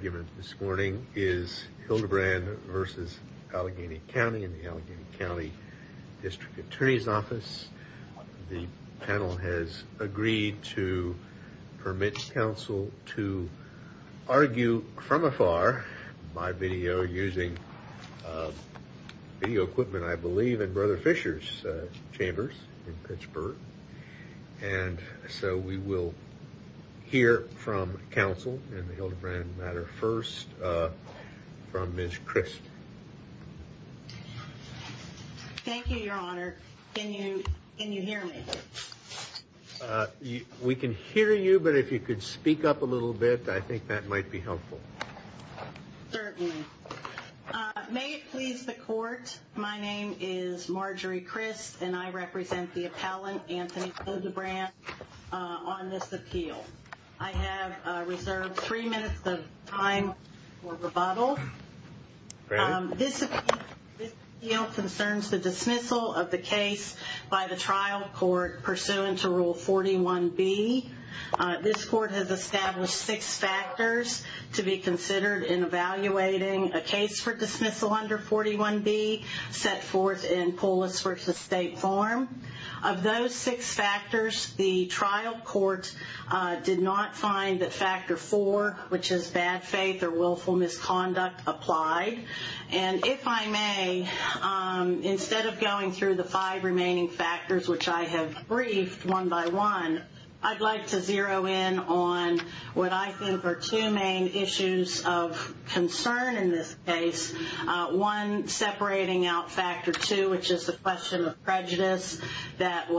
The argument this morning is Hildebrand v. Allegheny County in the Allegheny County District Attorney's Office. The panel has agreed to permit counsel to argue from afar by video using video equipment, I believe, in Brother Fisher's chambers in Pittsburgh. And so we will hear from counsel in the Hildebrand matter first from Ms. Crisp. Thank you, Your Honor. Can you hear me? We can hear you, but if you could speak up a little bit, I think that might be helpful. Certainly. May it please the Court, my name is Marjorie Crisp, and I represent the appellant, Anthony Hildebrand, on this appeal. I have reserved three minutes of time for rebuttal. This appeal concerns the dismissal of the case by the trial court pursuant to Rule 41B. This court has established six factors to be considered in evaluating a case for dismissal under 41B, set forth in Pullis v. State Farm. Of those six factors, the trial court did not find that Factor 4, which is bad faith or willful misconduct, applied. And if I may, instead of going through the five remaining factors, which I have briefed one by one, I'd like to zero in on what I think are two main issues of concern in this case. One, separating out Factor 2, which is the question of prejudice that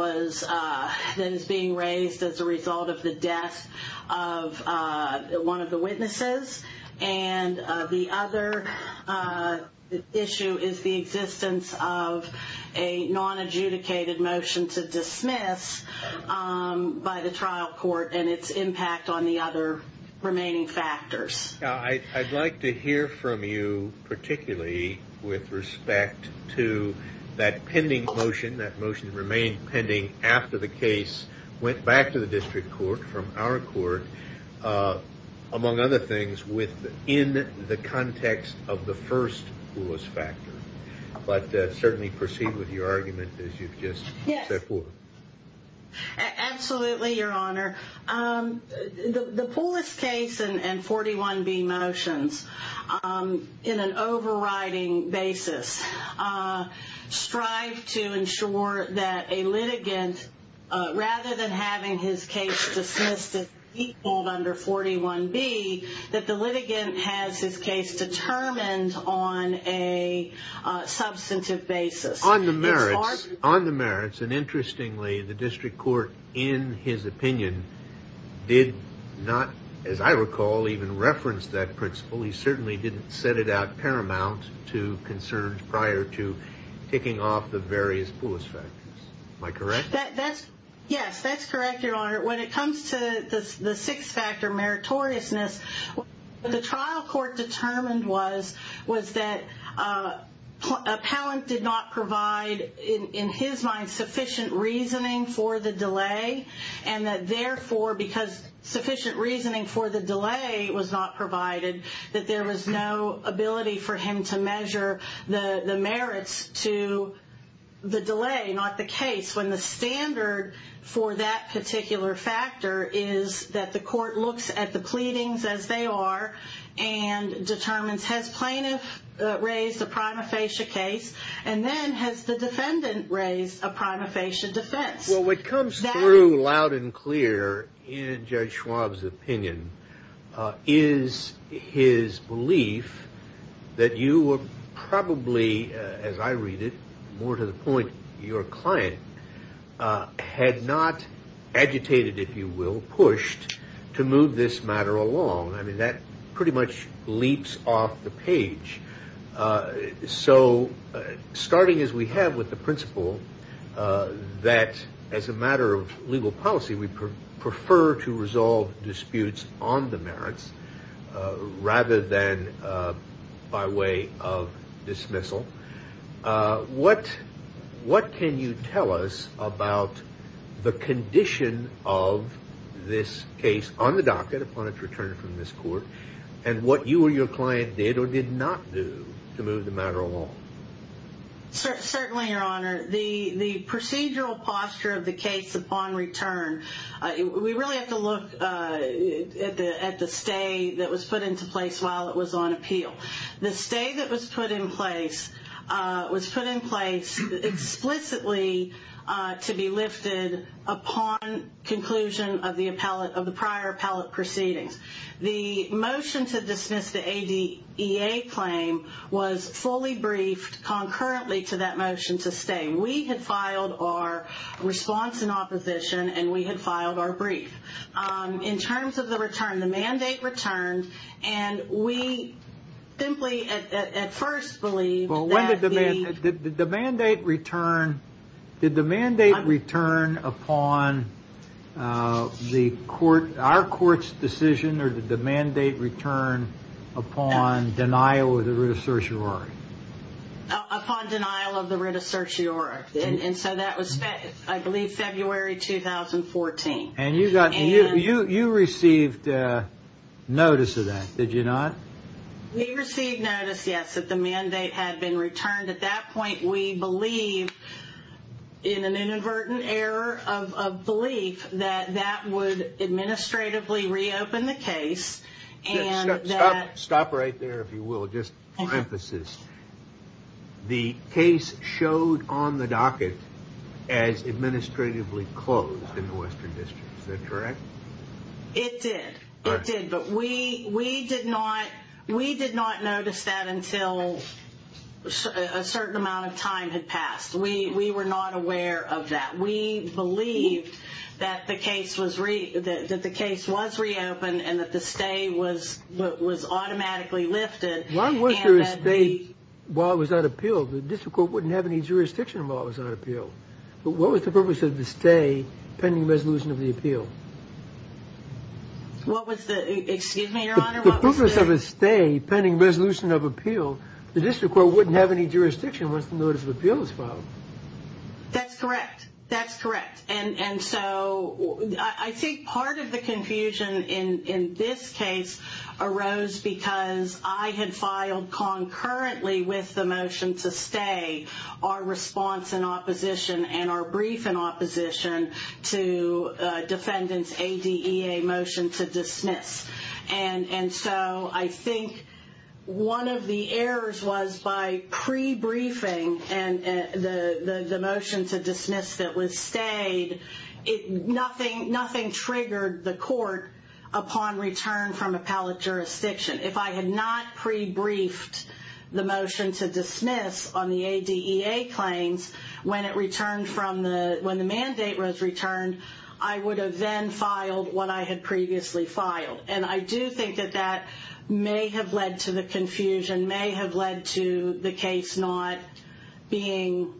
is being raised as a result of the death of one of the witnesses. And the other issue is the existence of a non-adjudicated motion to dismiss by the trial court and its impact on the other remaining factors. I'd like to hear from you, particularly with respect to that pending motion. That motion remained pending after the case went back to the district court, from our court, among other things, within the context of the first Pullis factor. But certainly proceed with your argument as you've just set forth. Absolutely, Your Honor. The Pullis case and 41B motions, in an overriding basis, strive to ensure that a litigant, rather than having his case dismissed as equaled under 41B, that the litigant has his case determined on a substantive basis. On the merits, and interestingly, the district court, in his opinion, did not, as I recall, even reference that principle. He certainly didn't set it out paramount to concerns prior to kicking off the various Pullis factors. Am I correct? Yes, that's correct, Your Honor. When it comes to the sixth factor, meritoriousness, what the trial court determined was that Appellant did not provide, in his mind, sufficient reasoning for the delay. And that therefore, because sufficient reasoning for the delay was not provided, that there was no ability for him to measure the merits to the delay, not the case. When the standard for that particular factor is that the court looks at the pleadings as they are and determines, has plaintiff raised a prima facie case? And then, has the defendant raised a prima facie defense? Well, what comes through loud and clear in Judge Schwab's opinion is his belief that you were probably, as I read it, more to the point, your client, had not agitated, if you will, pushed to move this matter along. I mean, that pretty much leaps off the page. So, starting as we have with the principle that, as a matter of legal policy, we prefer to resolve disputes on the merits rather than by way of dismissal. What can you tell us about the condition of this case on the docket, upon its return from this court, and what you or your client did or did not do to move the matter along? Certainly, Your Honor, the procedural posture of the case upon return, we really have to look at the stay that was put into place while it was on appeal. The stay that was put in place was put in place explicitly to be lifted upon conclusion of the prior appellate proceedings. The motion to dismiss the ADA claim was fully briefed concurrently to that motion to stay. We had filed our response in opposition, and we had filed our brief. In terms of the return, the mandate returned, and we simply at first believed that the... Well, when did the mandate return? Did the mandate return upon our court's decision, or did the mandate return upon denial of the writ of certiorari? Upon denial of the writ of certiorari, and so that was, I believe, February 2014. And you received notice of that, did you not? We received notice, yes, that the mandate had been returned. At that point, we believed in an inadvertent error of belief that that would administratively reopen the case, and that... Is that correct? It did. It did, but we did not notice that until a certain amount of time had passed. We were not aware of that. We believed that the case was reopened and that the stay was automatically lifted. Why was there a stay while it was on appeal? The district court wouldn't have any jurisdiction while it was on appeal. But what was the purpose of the stay pending resolution of the appeal? What was the... Excuse me, Your Honor, what was the... The purpose of a stay pending resolution of appeal, the district court wouldn't have any jurisdiction once the notice of appeal was filed. That's correct. That's correct. And so I think part of the confusion in this case arose because I had filed concurrently with the motion to stay our response in opposition and our brief in opposition to defendants' ADEA motion to dismiss. And so I think one of the errors was by pre-briefing and the motion to dismiss that was stayed, nothing triggered the court upon return from appellate jurisdiction. If I had not pre-briefed the motion to dismiss on the ADEA claims when the mandate was returned, I would have then filed what I had previously filed. And I do think that that may have led to the confusion, may have led to the case not being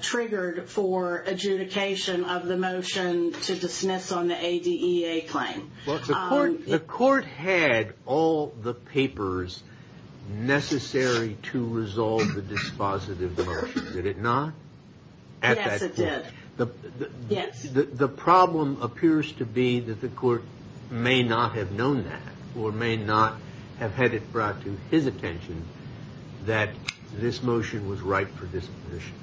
triggered for adjudication of the motion to dismiss on the ADEA claim. The court had all the papers necessary to resolve the dispositive motion, did it not? Yes, it did. The problem appears to be that the court may not have known that or may not have had it brought to his attention that this motion was right for disposition.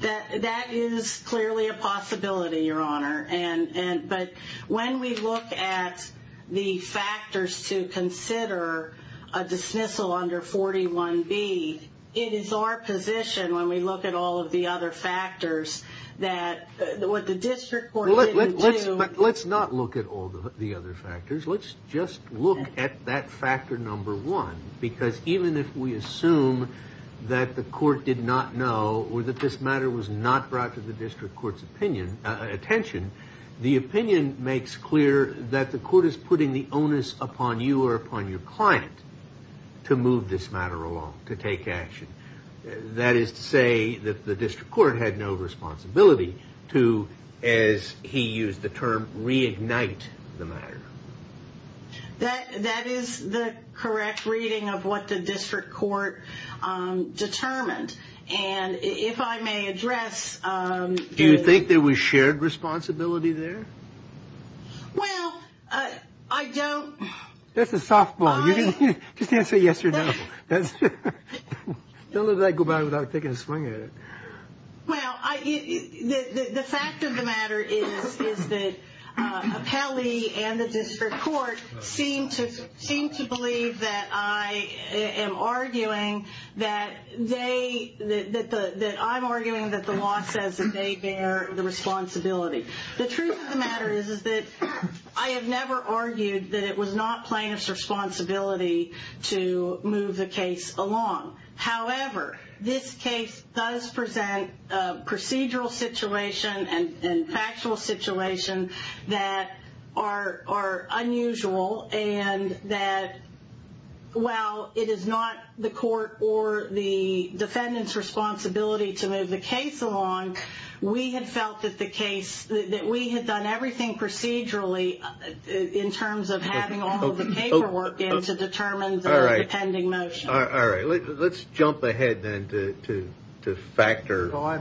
That is clearly a possibility, Your Honor. But when we look at the factors to consider a dismissal under 41B, it is our position when we look at all of the other factors that what the district court didn't do. But let's not look at all the other factors, let's just look at that factor number one, because even if we assume that the court did not know or that this matter was not brought to the district court's attention, the opinion makes clear that the court is putting the onus upon you or upon your client to move this matter along, to take action. That is to say that the district court had no responsibility to, as he used the term, reignite the matter. That is the correct reading of what the district court determined. And if I may address... Do you think there was shared responsibility there? Well, I don't... That's a softball. Just answer yes or no. Don't let that go by without taking a swing at it. Well, the fact of the matter is that Appellee and the district court seem to believe that I am arguing that they, that I'm arguing that the law says that they bear the responsibility. The truth of the matter is that I have never argued that it was not plaintiff's responsibility to move the case along. However, this case does present a procedural situation and factual situation that are unusual and that while it is not the court or the defendant's responsibility to move the case along, we had felt that the case, that we had done everything procedurally in terms of having all the paperwork in to determine the pending motion. All right. Let's jump ahead then to factor... I'm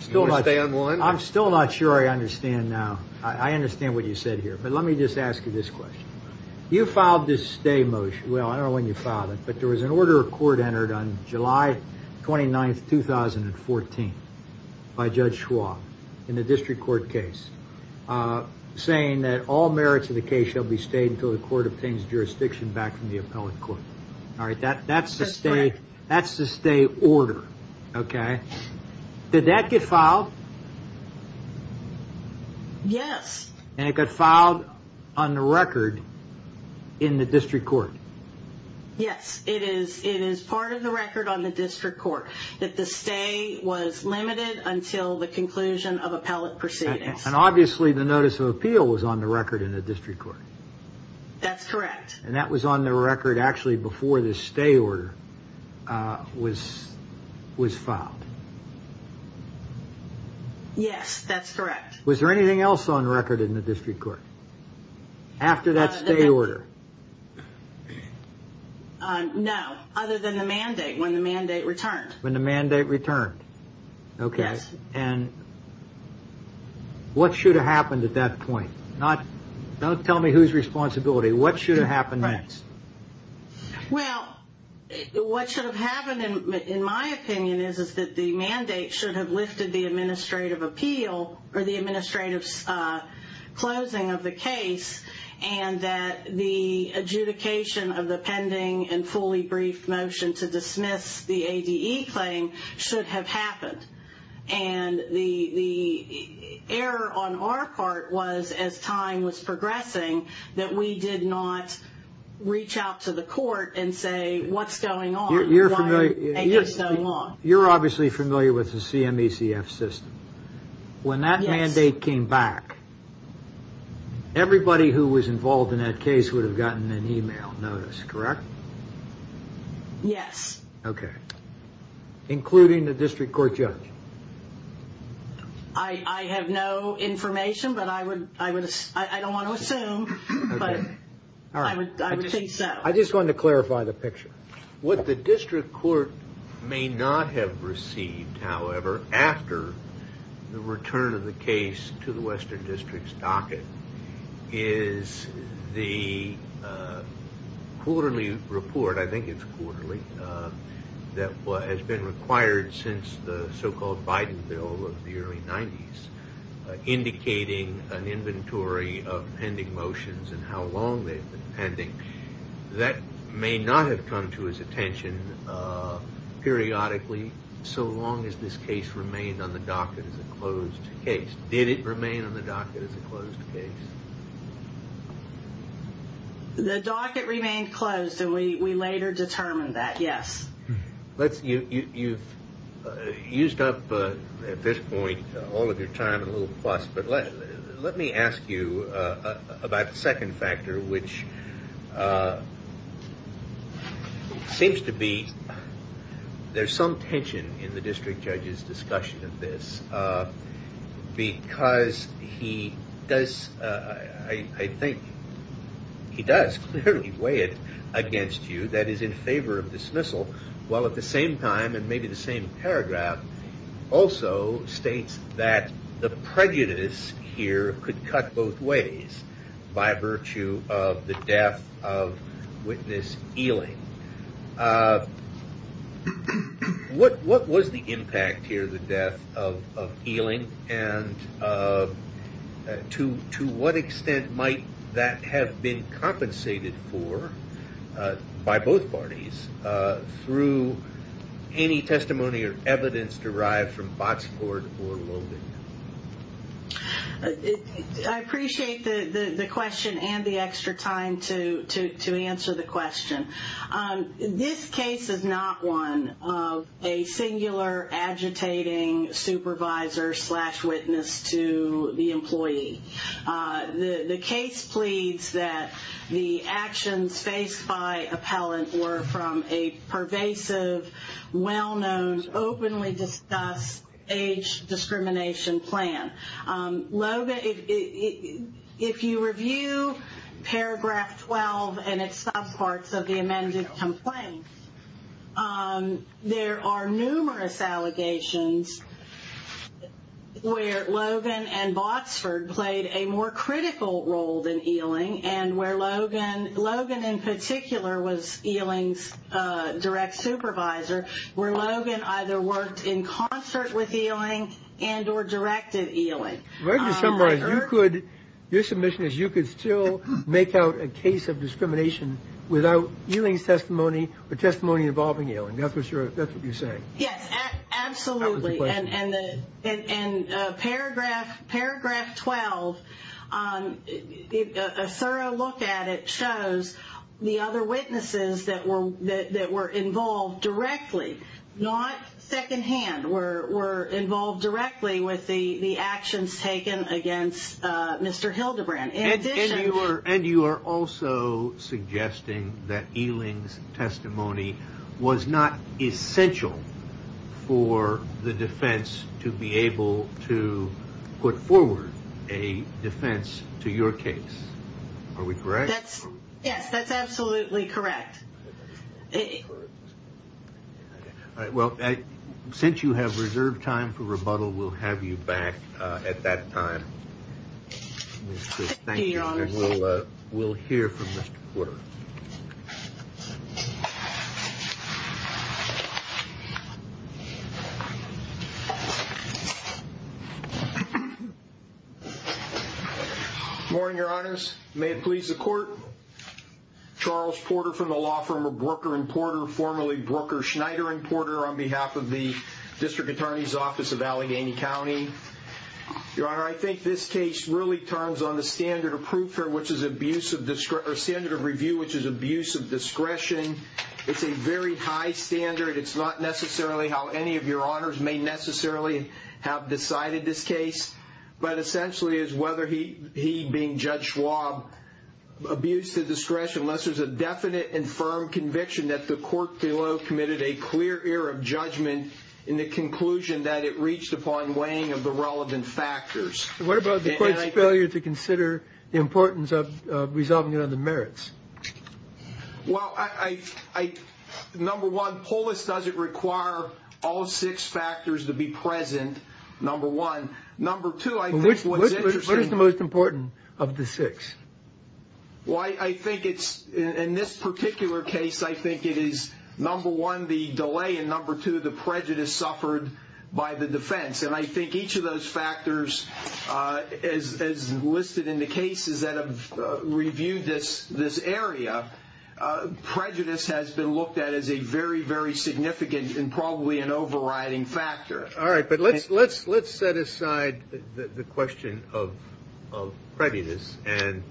still not sure I understand now. I understand what you said here. But let me just ask you this question. You filed this stay motion. Well, I don't know when you filed it, but there was an order of court entered on July 29th, 2014 by Judge Schwab in the district court case, saying that all merits of the case shall be stayed until the court obtains jurisdiction back from the appellate court. All right. That's the stay order. Okay. Did that get filed? Yes. And it got filed on the record in the district court? Yes, it is. It is part of the record on the district court that the stay was limited until the conclusion of appellate proceedings. And obviously the notice of appeal was on the record in the district court. That's correct. And that was on the record actually before the stay order was filed. Yes, that's correct. Was there anything else on record in the district court after that stay order? No, other than the mandate, when the mandate returned. When the mandate returned. Okay. Yes. And what should have happened at that point? Don't tell me who's responsibility. What should have happened next? Well, what should have happened in my opinion is that the mandate should have lifted the administrative appeal or the administrative closing of the case and that the adjudication of the pending and fully briefed motion to dismiss the ADE claim should have happened. And the error on our part was as time was progressing that we did not reach out to the court and say, what's going on? You're obviously familiar with the CMECF system. When that mandate came back, everybody who was involved in that case would have gotten an email notice, correct? Yes. Okay. Including the district court judge? I have no information, but I don't want to assume, but I would think so. I just wanted to clarify the picture. What the district court may not have received, however, after the return of the case to the Western District's docket is the quarterly report, I think it's quarterly, that has been required since the so-called Biden bill of the early 90s, indicating an inventory of pending motions and how long they've been pending. That may not have come to his attention periodically so long as this case remained on the docket as a closed case. Did it remain on the docket as a closed case? The docket remained closed, and we later determined that, yes. You've used up at this point all of your time in a little fuss, but let me ask you about the second factor, which seems to be, there's some tension in the district judge's discussion of this, because he does, I think, he does clearly weigh it against you, that is in favor of dismissal, while at the same time, in maybe the same paragraph, also states that the prejudice here could cut both ways by virtue of the death of witness Ealing. What was the impact here, the death of Ealing, and to what extent might that have been compensated for by both parties through any testimony or evidence derived from Botsford or Logan? I appreciate the question and the extra time to answer the question. This case is not one of a singular agitating supervisor slash witness to the employee. The case pleads that the actions faced by appellant were from a pervasive, well-known, openly discussed age discrimination plan. If you review paragraph 12 and its subparts of the amended complaint, there are numerous allegations where Logan and Botsford played a more critical role than Ealing, and where Logan in particular was Ealing's direct supervisor, where Logan either worked in concert with Ealing and or directed Ealing. If I could summarize, you could, your submission is you could still make out a case of discrimination without Ealing's testimony or testimony involving Ealing, that's what you're saying? Yes, absolutely, and paragraph 12, a thorough look at it shows the other witnesses that were involved directly, not secondhand, were involved directly with the actions taken against Mr. Hildebrand. And you are also suggesting that Ealing's testimony was not essential for the defense to be able to put forward a defense to your case. Are we correct? Yes, that's absolutely correct. Well, since you have reserved time for rebuttal, we'll have you back at that time. Thank you, Your Honors. Good morning, Your Honors. May it please the court, Charles Porter from the law firm of Brooker and Porter, formerly Brooker, Schneider and Porter, on behalf of the District Attorney's Office of Allegheny County. Your Honor, I think this case really turns on the standard of review, which is abuse of discretion. It's a very high standard. It's not necessarily how any of your honors may necessarily have decided this case, but essentially it's whether he, being Judge Schwab, abused the discretion, unless there's a definite and firm conviction that the court below committed a clear error of judgment in the conclusion that it reached upon weighing of the relevant factors. What about the court's failure to consider the importance of resolving it on the merits? Well, number one, POLIS doesn't require all six factors to be present, number one. Number two, I think what's interesting... What is the most important of the six? Well, I think it's, in this particular case, I think it is, number one, the delay, and number two, the prejudice suffered by the defense. And I think each of those factors, as listed in the cases that have reviewed this area, prejudice has been looked at as a very, very significant and probably an overriding factor. All right, but let's set aside the question of prejudice and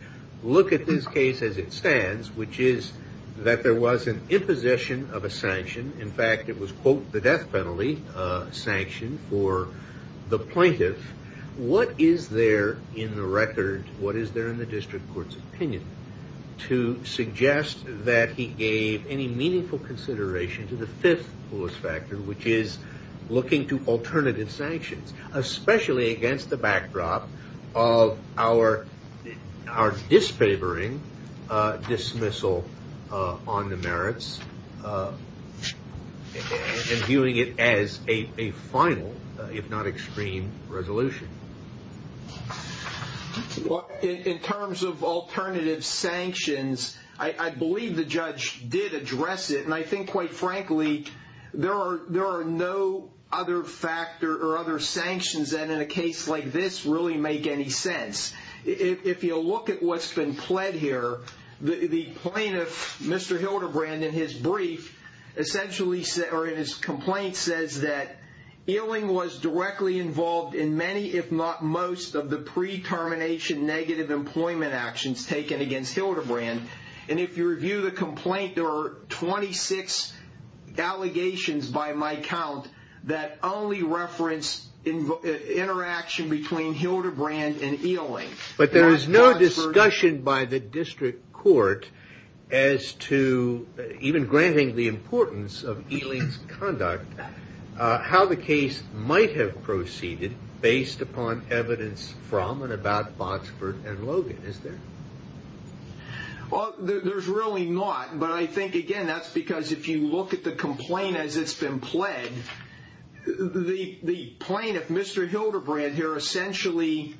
look at this case as it stands, which is that there was an imposition of a sanction. In fact, it was, quote, the death penalty sanction for the plaintiff. What is there in the record, what is there in the district court's opinion, to suggest that he gave any meaningful consideration to the fifth POLIS factor, which is looking to alternative sanctions, especially against the backdrop of our disfavoring dismissal on the merits and viewing it as a final, if not extreme, resolution? Well, in terms of alternative sanctions, I believe the judge did address it, and I think, quite frankly, there are no other sanctions that, in a case like this, really make any sense. If you look at what's been pled here, the plaintiff, Mr. Hildebrand, in his brief, essentially, or in his complaint, says that Ewing was directly involved in many, if not most, of the pre-termination negative employment actions taken against Hildebrand. And if you review the complaint, there are 26 allegations by my count that only reference interaction between Hildebrand and Ewing. But there is no discussion by the district court as to, even granting the importance of Ewing's conduct, how the case might have proceeded based upon evidence from and about Botsford and Logan, is there? Well, there's really not. But I think, again, that's because if you look at the complaint as it's been pled, the plaintiff, Mr. Hildebrand here, essentially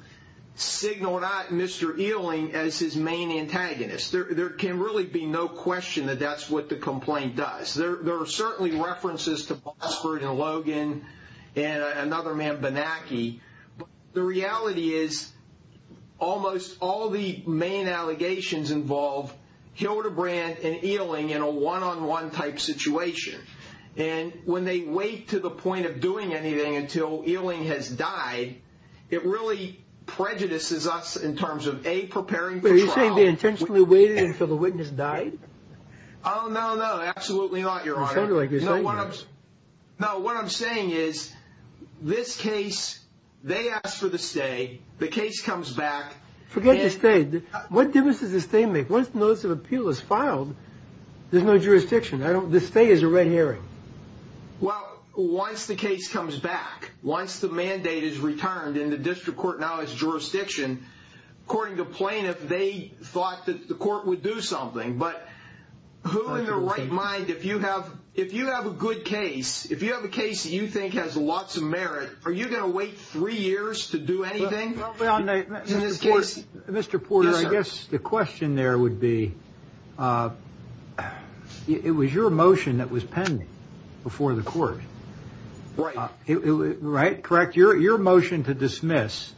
signaled out Mr. Ewing as his main antagonist. There can really be no question that that's what the complaint does. There are certainly references to Botsford and Logan and another man, Bonacchi. But the reality is almost all the main allegations involve Hildebrand and Ewing in a one-on-one type situation. And when they wait to the point of doing anything until Ewing has died, it really prejudices us in terms of, A, preparing for trial. Wait, are you saying they intentionally waited until the witness died? Oh, no, no, absolutely not, Your Honor. It sounded like you were saying that. No, what I'm saying is this case, they asked for the stay. The case comes back. Forget the stay. What difference does the stay make? Once the notice of appeal is filed, there's no jurisdiction. The stay is a red herring. Well, once the case comes back, once the mandate is returned and the district court now has jurisdiction, according to plaintiff, they thought that the court would do something. But who in their right mind, if you have a good case, if you have a case that you think has lots of merit, are you going to wait three years to do anything in this case? Mr. Porter, I guess the question there would be, it was your motion that was pending before the court. Right. Correct? Your motion to dismiss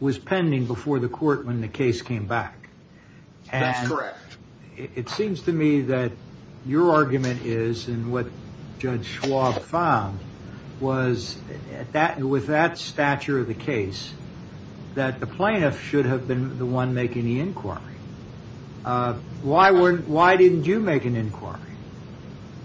was pending before the court when the case came back. That's correct. It seems to me that your argument is, and what Judge Schwab found, was with that stature of the case, that the plaintiff should have been the one making the inquiry. Why didn't you make an inquiry?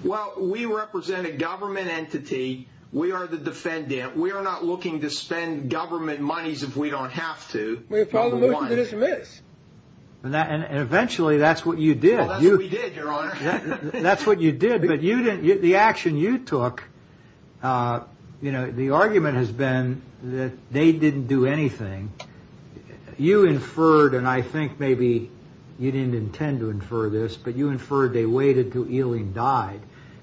Well, we represent a government entity. We are the defendant. We are not looking to spend government monies if we don't have to. We filed a motion to dismiss. And eventually that's what you did. That's what we did, Your Honor. That's what you did, but the action you took, the argument has been that they didn't do anything. You inferred, and I think maybe you didn't intend to infer this, but you inferred they waited until Eling died.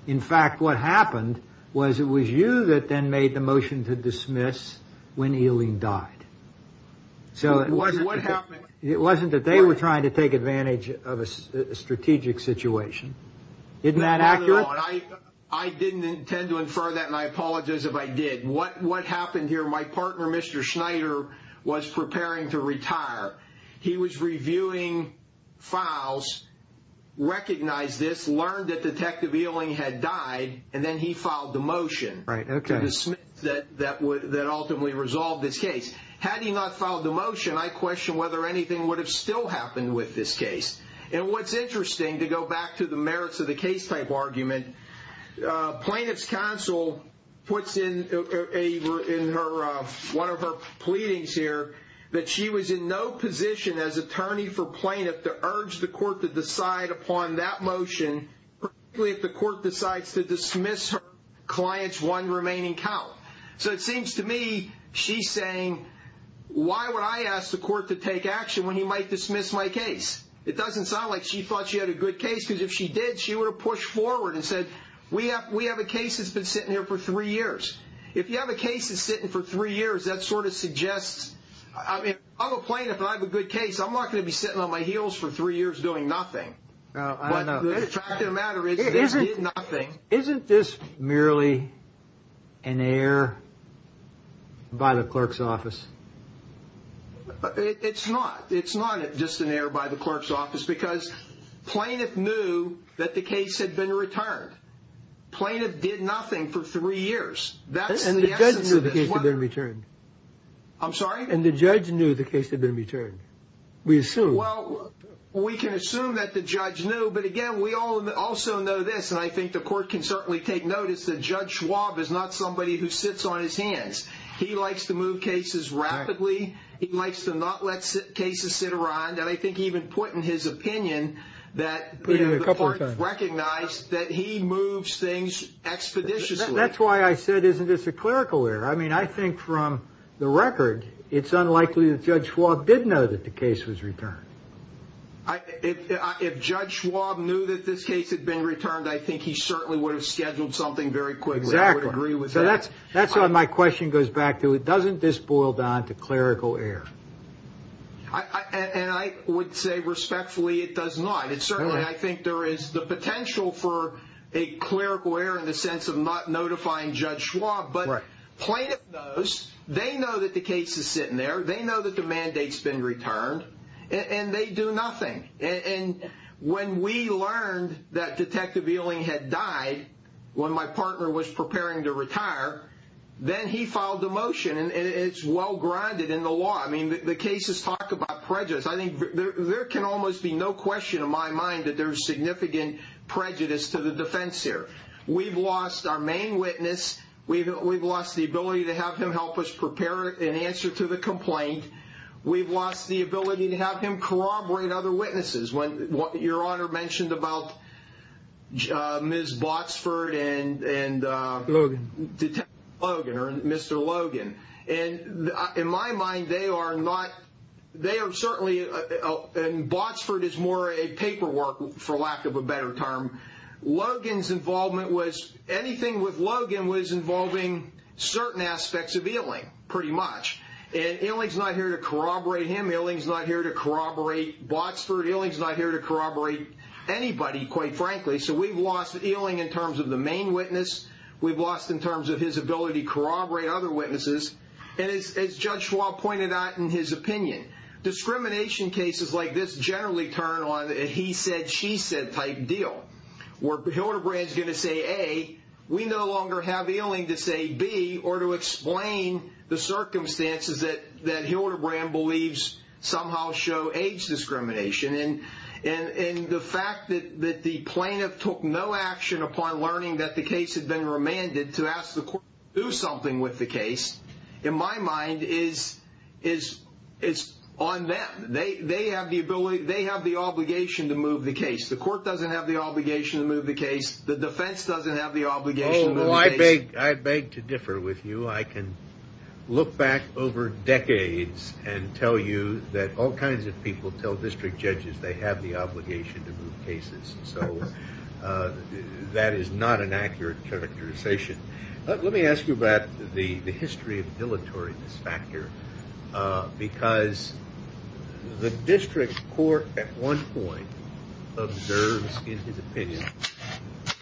In fact, what happened was it was you that then made the motion to dismiss when Eling died. It wasn't that they were trying to take advantage of a strategic situation. Isn't that accurate? I didn't intend to infer that, and I apologize if I did. What happened here, my partner, Mr. Schneider, was preparing to retire. He was reviewing files, recognized this, learned that Detective Eling had died, and then he filed the motion to dismiss that ultimately resolved this case. Had he not filed the motion, I question whether anything would have still happened with this case. And what's interesting, to go back to the merits of the case type argument, plaintiff's counsel puts in one of her pleadings here that she was in no position as attorney for plaintiff to urge the court to decide upon that motion, particularly if the court decides to dismiss her client's one remaining count. So it seems to me she's saying, why would I ask the court to take action when he might dismiss my case? It doesn't sound like she thought she had a good case, because if she did, she would have pushed forward and said, we have a case that's been sitting here for three years. If you have a case that's sitting here for three years, that sort of suggests – I'm a plaintiff, and I have a good case. I'm not going to be sitting on my heels for three years doing nothing. The fact of the matter is, this did nothing. Isn't this merely an error by the clerk's office? It's not. It's not just an error by the clerk's office, because plaintiff knew that the case had been returned. Plaintiff did nothing for three years. And the judge knew the case had been returned. I'm sorry? And the judge knew the case had been returned. We assume. Well, we can assume that the judge knew, but again, we also know this, and I think the court can certainly take notice that Judge Schwab is not somebody who sits on his hands. He likes to move cases rapidly. He likes to not let cases sit around. And I think he even put in his opinion that the court recognized that he moves things expeditiously. That's why I said, isn't this a clerical error? I mean, I think from the record, it's unlikely that Judge Schwab did know that the case was returned. If Judge Schwab knew that this case had been returned, I think he certainly would have scheduled something very quickly. Exactly. I would agree with that. That's what my question goes back to. Doesn't this boil down to clerical error? And I would say respectfully, it does not. Certainly, I think there is the potential for a clerical error in the sense of not notifying Judge Schwab. But plaintiff knows. They know that the case is sitting there. They know that the mandate's been returned, and they do nothing. And when we learned that Detective Ewing had died when my partner was preparing to retire, then he filed a motion. And it's well-grinded in the law. I mean, the cases talk about prejudice. I think there can almost be no question in my mind that there's significant prejudice to the defense here. We've lost our main witness. We've lost the ability to have him help us prepare an answer to the complaint. We've lost the ability to have him corroborate other witnesses. Your Honor mentioned about Ms. Botsford and Detective Logan or Mr. Logan. And in my mind, they are not – they are certainly – and Botsford is more a paperwork, for lack of a better term. Logan's involvement was – anything with Logan was involving certain aspects of Ewing, pretty much. And Ewing's not here to corroborate him. Ewing's not here to corroborate Botsford. Ewing's not here to corroborate anybody, quite frankly. So we've lost Ewing in terms of the main witness. We've lost in terms of his ability to corroborate other witnesses. And as Judge Schwab pointed out in his opinion, discrimination cases like this generally turn on a he said, she said type deal. Where Hildebrand's going to say A, we no longer have Ewing to say B or to explain the circumstances that Hildebrand believes somehow show age discrimination. And the fact that the plaintiff took no action upon learning that the case had been remanded to ask the court to do something with the case, in my mind, is on them. They have the ability – they have the obligation to move the case. The court doesn't have the obligation to move the case. The defense doesn't have the obligation to move the case. Oh, I beg to differ with you. I can look back over decades and tell you that all kinds of people tell district judges they have the obligation to move cases. So that is not an accurate characterization. Let me ask you about the history of dilatory disfactor because the district court at one point observes in his opinion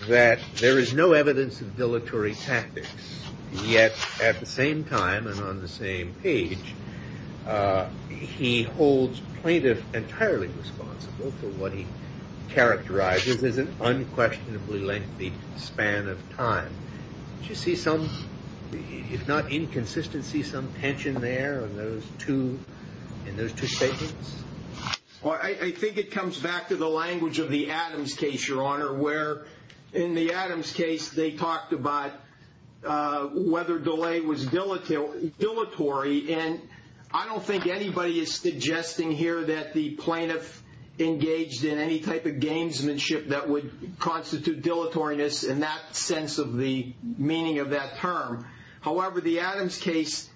that there is no evidence of dilatory tactics. Yet at the same time and on the same page, he holds plaintiff entirely responsible for what he characterizes as an unquestionably lengthy span of time. Do you see some, if not inconsistency, some tension there in those two statements? I think it comes back to the language of the Adams case, Your Honor, where in the Adams case they talked about whether delay was dilatory. And I don't think anybody is suggesting here that the plaintiff engaged in any type of gamesmanship that would constitute dilatoriness in that sense of the meaning of that term. However, the Adams case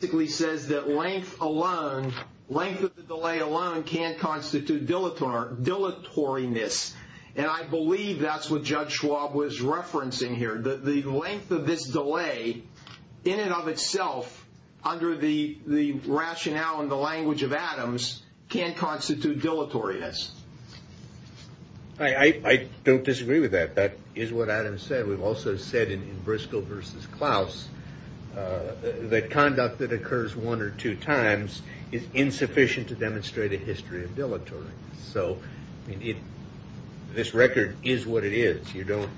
basically says that length alone, length of the delay alone can't constitute dilatoriness. And I believe that's what Judge Schwab was referencing here. The length of this delay in and of itself under the rationale and the language of Adams can't constitute dilatoriness. I don't disagree with that. That is what Adams said. We've also said in Briscoe versus Klaus that conduct that occurs one or two times is insufficient to demonstrate a history of dilatory. So this record is what it is. You don't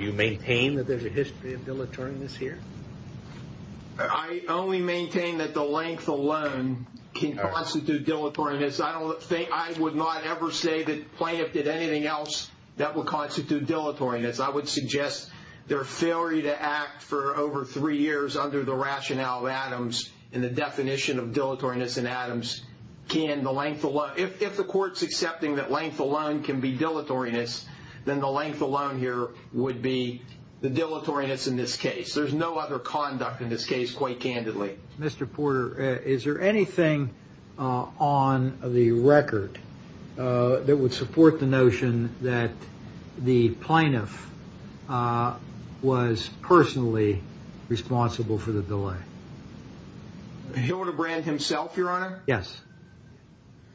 you maintain that there's a history of dilatoriness here? I only maintain that the length alone can constitute dilatoriness. I don't think I would not ever say that plaintiff did anything else that would constitute dilatoriness. I would suggest their failure to act for over three years under the rationale of Adams and the definition of dilatoriness in Adams can the length. If the court's accepting that length alone can be dilatoriness, then the length alone here would be the dilatoriness in this case. There's no other conduct in this case quite candidly. Mr. Porter, is there anything on the record that would support the notion that the plaintiff was personally responsible for the delay? Hilderbrand himself, Your Honor. Yes.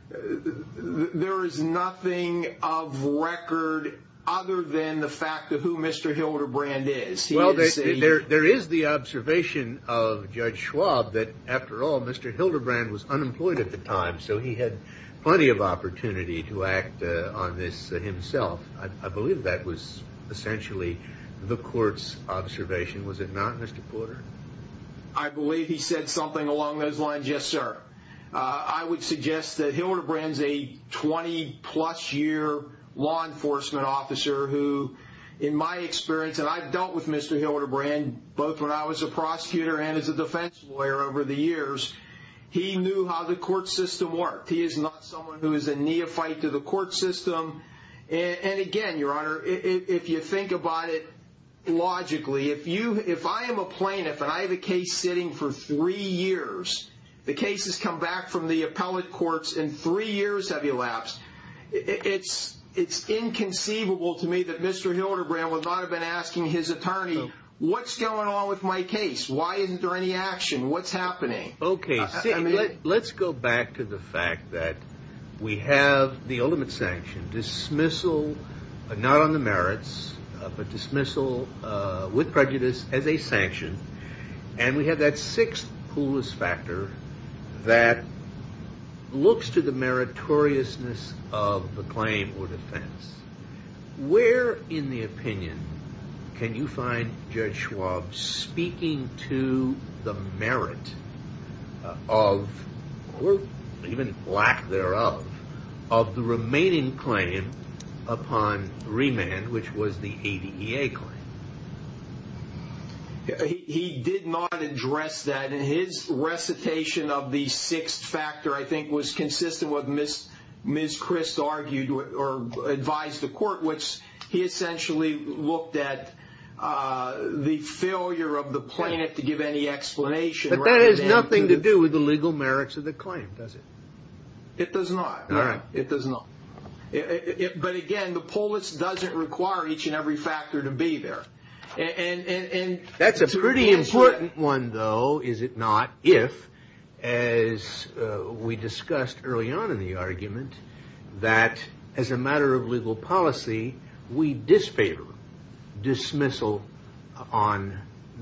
There is nothing of record other than the fact of who Mr. Hilderbrand is. There is the observation of Judge Schwab that, after all, Mr. Hilderbrand was unemployed at the time, so he had plenty of opportunity to act on this himself. I believe that was essentially the court's observation. Was it not, Mr. Porter? I believe he said something along those lines, yes, sir. I would suggest that Hilderbrand's a 20-plus year law enforcement officer who, in my experience, and I've dealt with Mr. Hilderbrand both when I was a prosecutor and as a defense lawyer over the years, he knew how the court system worked. He is not someone who is a neophyte to the court system. Again, Your Honor, if you think about it logically, if I am a plaintiff and I have a case sitting for three years, the cases come back from the appellate courts and three years have elapsed, it's inconceivable to me that Mr. Hilderbrand would not have been asking his attorney, what's going on with my case? Why isn't there any action? What's happening? Let's go back to the fact that we have the ultimate sanction, dismissal, not on the merits, but dismissal with prejudice as a sanction, and we have that sixth coolest factor that looks to the meritoriousness of the claim or defense. Where, in the opinion, can you find Judge Schwab speaking to the merit of, or even lack thereof, of the remaining claim upon remand, which was the ADA claim? He did not address that. His recitation of the sixth factor, I think, was consistent with what Ms. Christ argued or advised the court, which he essentially looked at the failure of the plaintiff to give any explanation. But that has nothing to do with the legal merits of the claim, does it? It does not. All right. It does not. But again, the polis doesn't require each and every factor to be there. That's a pretty important one, though, is it not? If, as we discussed early on in the argument, that as a matter of legal policy, we disfavor dismissal on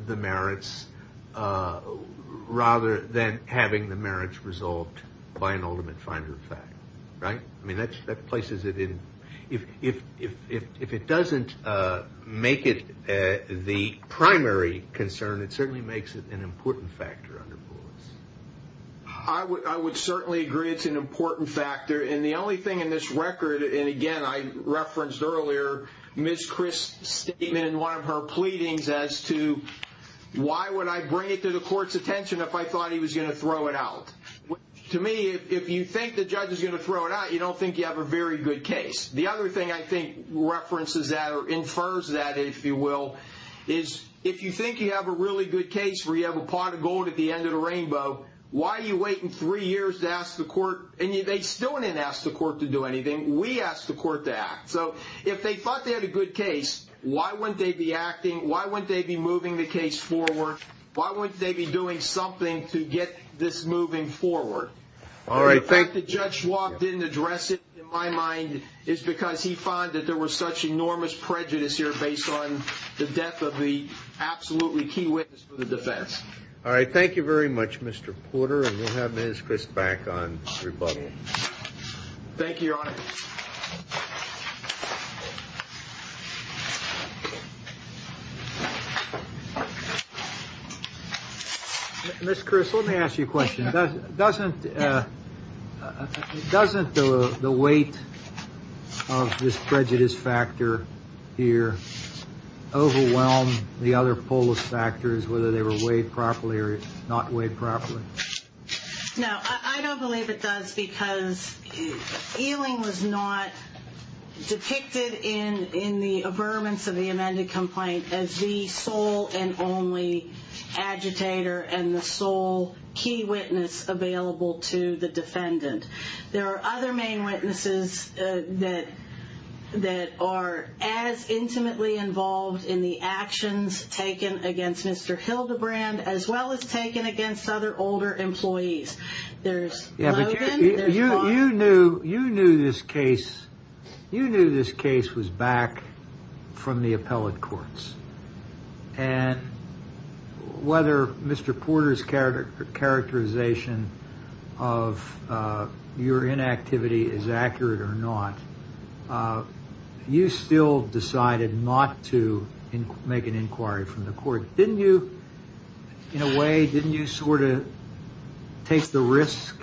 the merits rather than having the merits resolved by an ultimate finder of fact. Right? I mean, that places it in – if it doesn't make it the primary concern, it certainly makes it an important factor under polis. I would certainly agree it's an important factor. And the only thing in this record – and again, I referenced earlier Ms. Christ's statement in one of her pleadings as to why would I bring it to the court's attention if I thought he was going to throw it out. To me, if you think the judge is going to throw it out, you don't think you have a very good case. The other thing I think references that or infers that, if you will, is if you think you have a really good case where you have a pot of gold at the end of the rainbow, why are you waiting three years to ask the court – and they still didn't ask the court to do anything. We asked the court to act. So if they thought they had a good case, why wouldn't they be acting? Why wouldn't they be moving the case forward? Why wouldn't they be doing something to get this moving forward? The fact the judge didn't address it, in my mind, is because he found that there was such enormous prejudice here based on the death of the absolutely key witness for the defense. All right. Thank you very much, Mr. Porter. And we'll have Ms. Christ back on rebuttal. Thank you, Your Honor. Ms. Christ, let me ask you a question. Doesn't the weight of this prejudice factor here overwhelm the other polis factors, whether they were weighed properly or not weighed properly? No, I don't believe it does because Ealing was not depicted in the affirmance of the amended complaint as the sole and only agitator and the sole key witness available to the defendant. There are other main witnesses that are as intimately involved in the actions taken against Mr. Hildebrand as well as taken against other older employees. There's Logan. You knew this case was back from the appellate courts. And whether Mr. Porter's characterization of your inactivity is accurate or not, you still decided not to make an inquiry from the court. In a way, didn't you sort of take the risk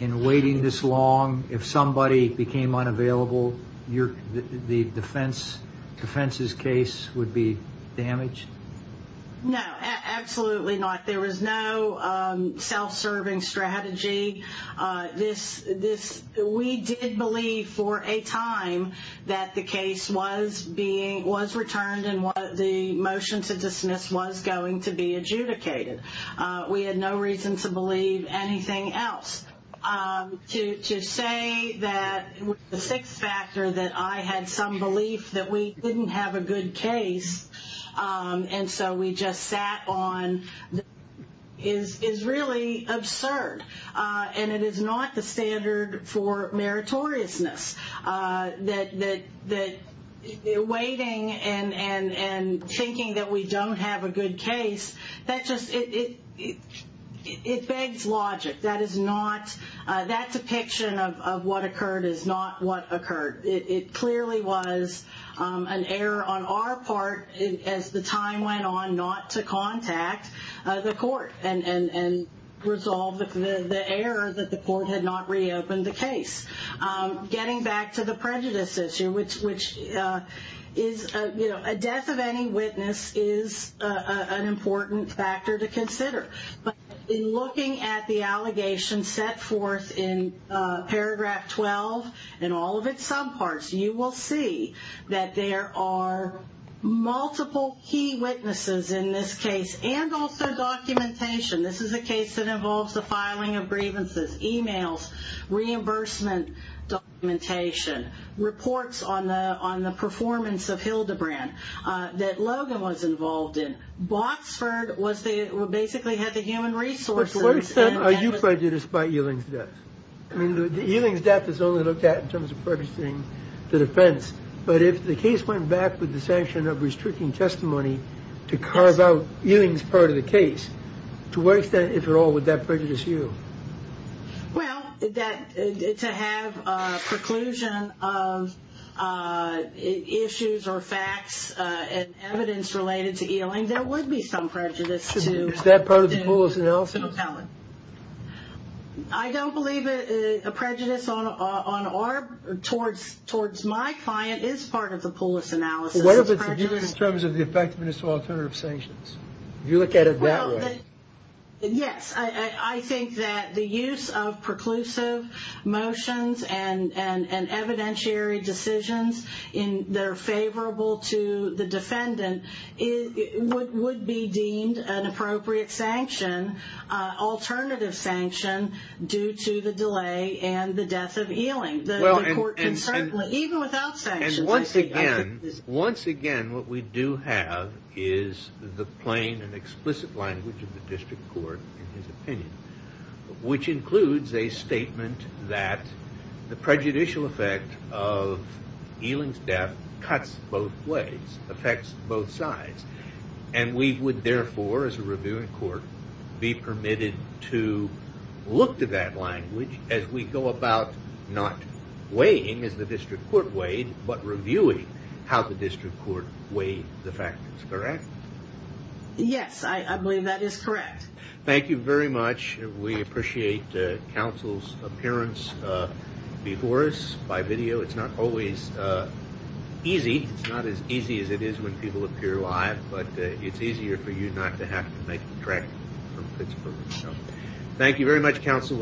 in waiting this long? If somebody became unavailable, the defense's case would be damaged? No, absolutely not. There was no self-serving strategy. We did believe for a time that the case was returned and the motion to dismiss was going to be adjudicated. We had no reason to believe anything else. To say that the sixth factor that I had some belief that we didn't have a good case and so we just sat on is really absurd. And it is not the standard for meritoriousness. Waiting and thinking that we don't have a good case, it begs logic. That depiction of what occurred is not what occurred. It clearly was an error on our part as the time went on not to contact the court and resolve the error that the court had not reopened the case. Getting back to the prejudice issue, which is a death of any witness is an important factor to consider. In looking at the allegations set forth in paragraph 12 and all of its subparts, you will see that there are multiple key witnesses in this case and also documentation. This is a case that involves the filing of grievances, emails, reimbursement documentation, reports on the performance of Hildebrand that Logan was involved in. Boxford basically had the human resources. To what extent are you prejudiced by Eling's death? Eling's death is only looked at in terms of purchasing the defense. But if the case went back with the sanction of restricting testimony to carve out Eling's part of the case, to what extent, if at all, would that prejudice you? Well, to have a preclusion of issues or facts and evidence related to Eling, there would be some prejudice. Is that part of the Poulos analysis? I don't believe a prejudice towards my client is part of the Poulos analysis. What if it's viewed in terms of the effectiveness of alternative sanctions? You look at it that way. Yes, I think that the use of preclusive motions and evidentiary decisions that are favorable to the defendant would be deemed an appropriate alternative sanction due to the delay and the death of Eling. Once again, what we do have is the plain and explicit language of the district court in his opinion, which includes a statement that the prejudicial effect of Eling's death cuts both ways, affects both sides. And we would therefore, as a reviewing court, be permitted to look to that language as we go about not weighing as the district court weighed, but reviewing how the district court weighed the factors, correct? Yes, I believe that is correct. Thank you very much. We appreciate counsel's appearance before us by video. It's not always easy. It's not as easy as it is when people appear live, but it's easier for you not to have to make the trek from Pittsburgh. Thank you very much, counsel.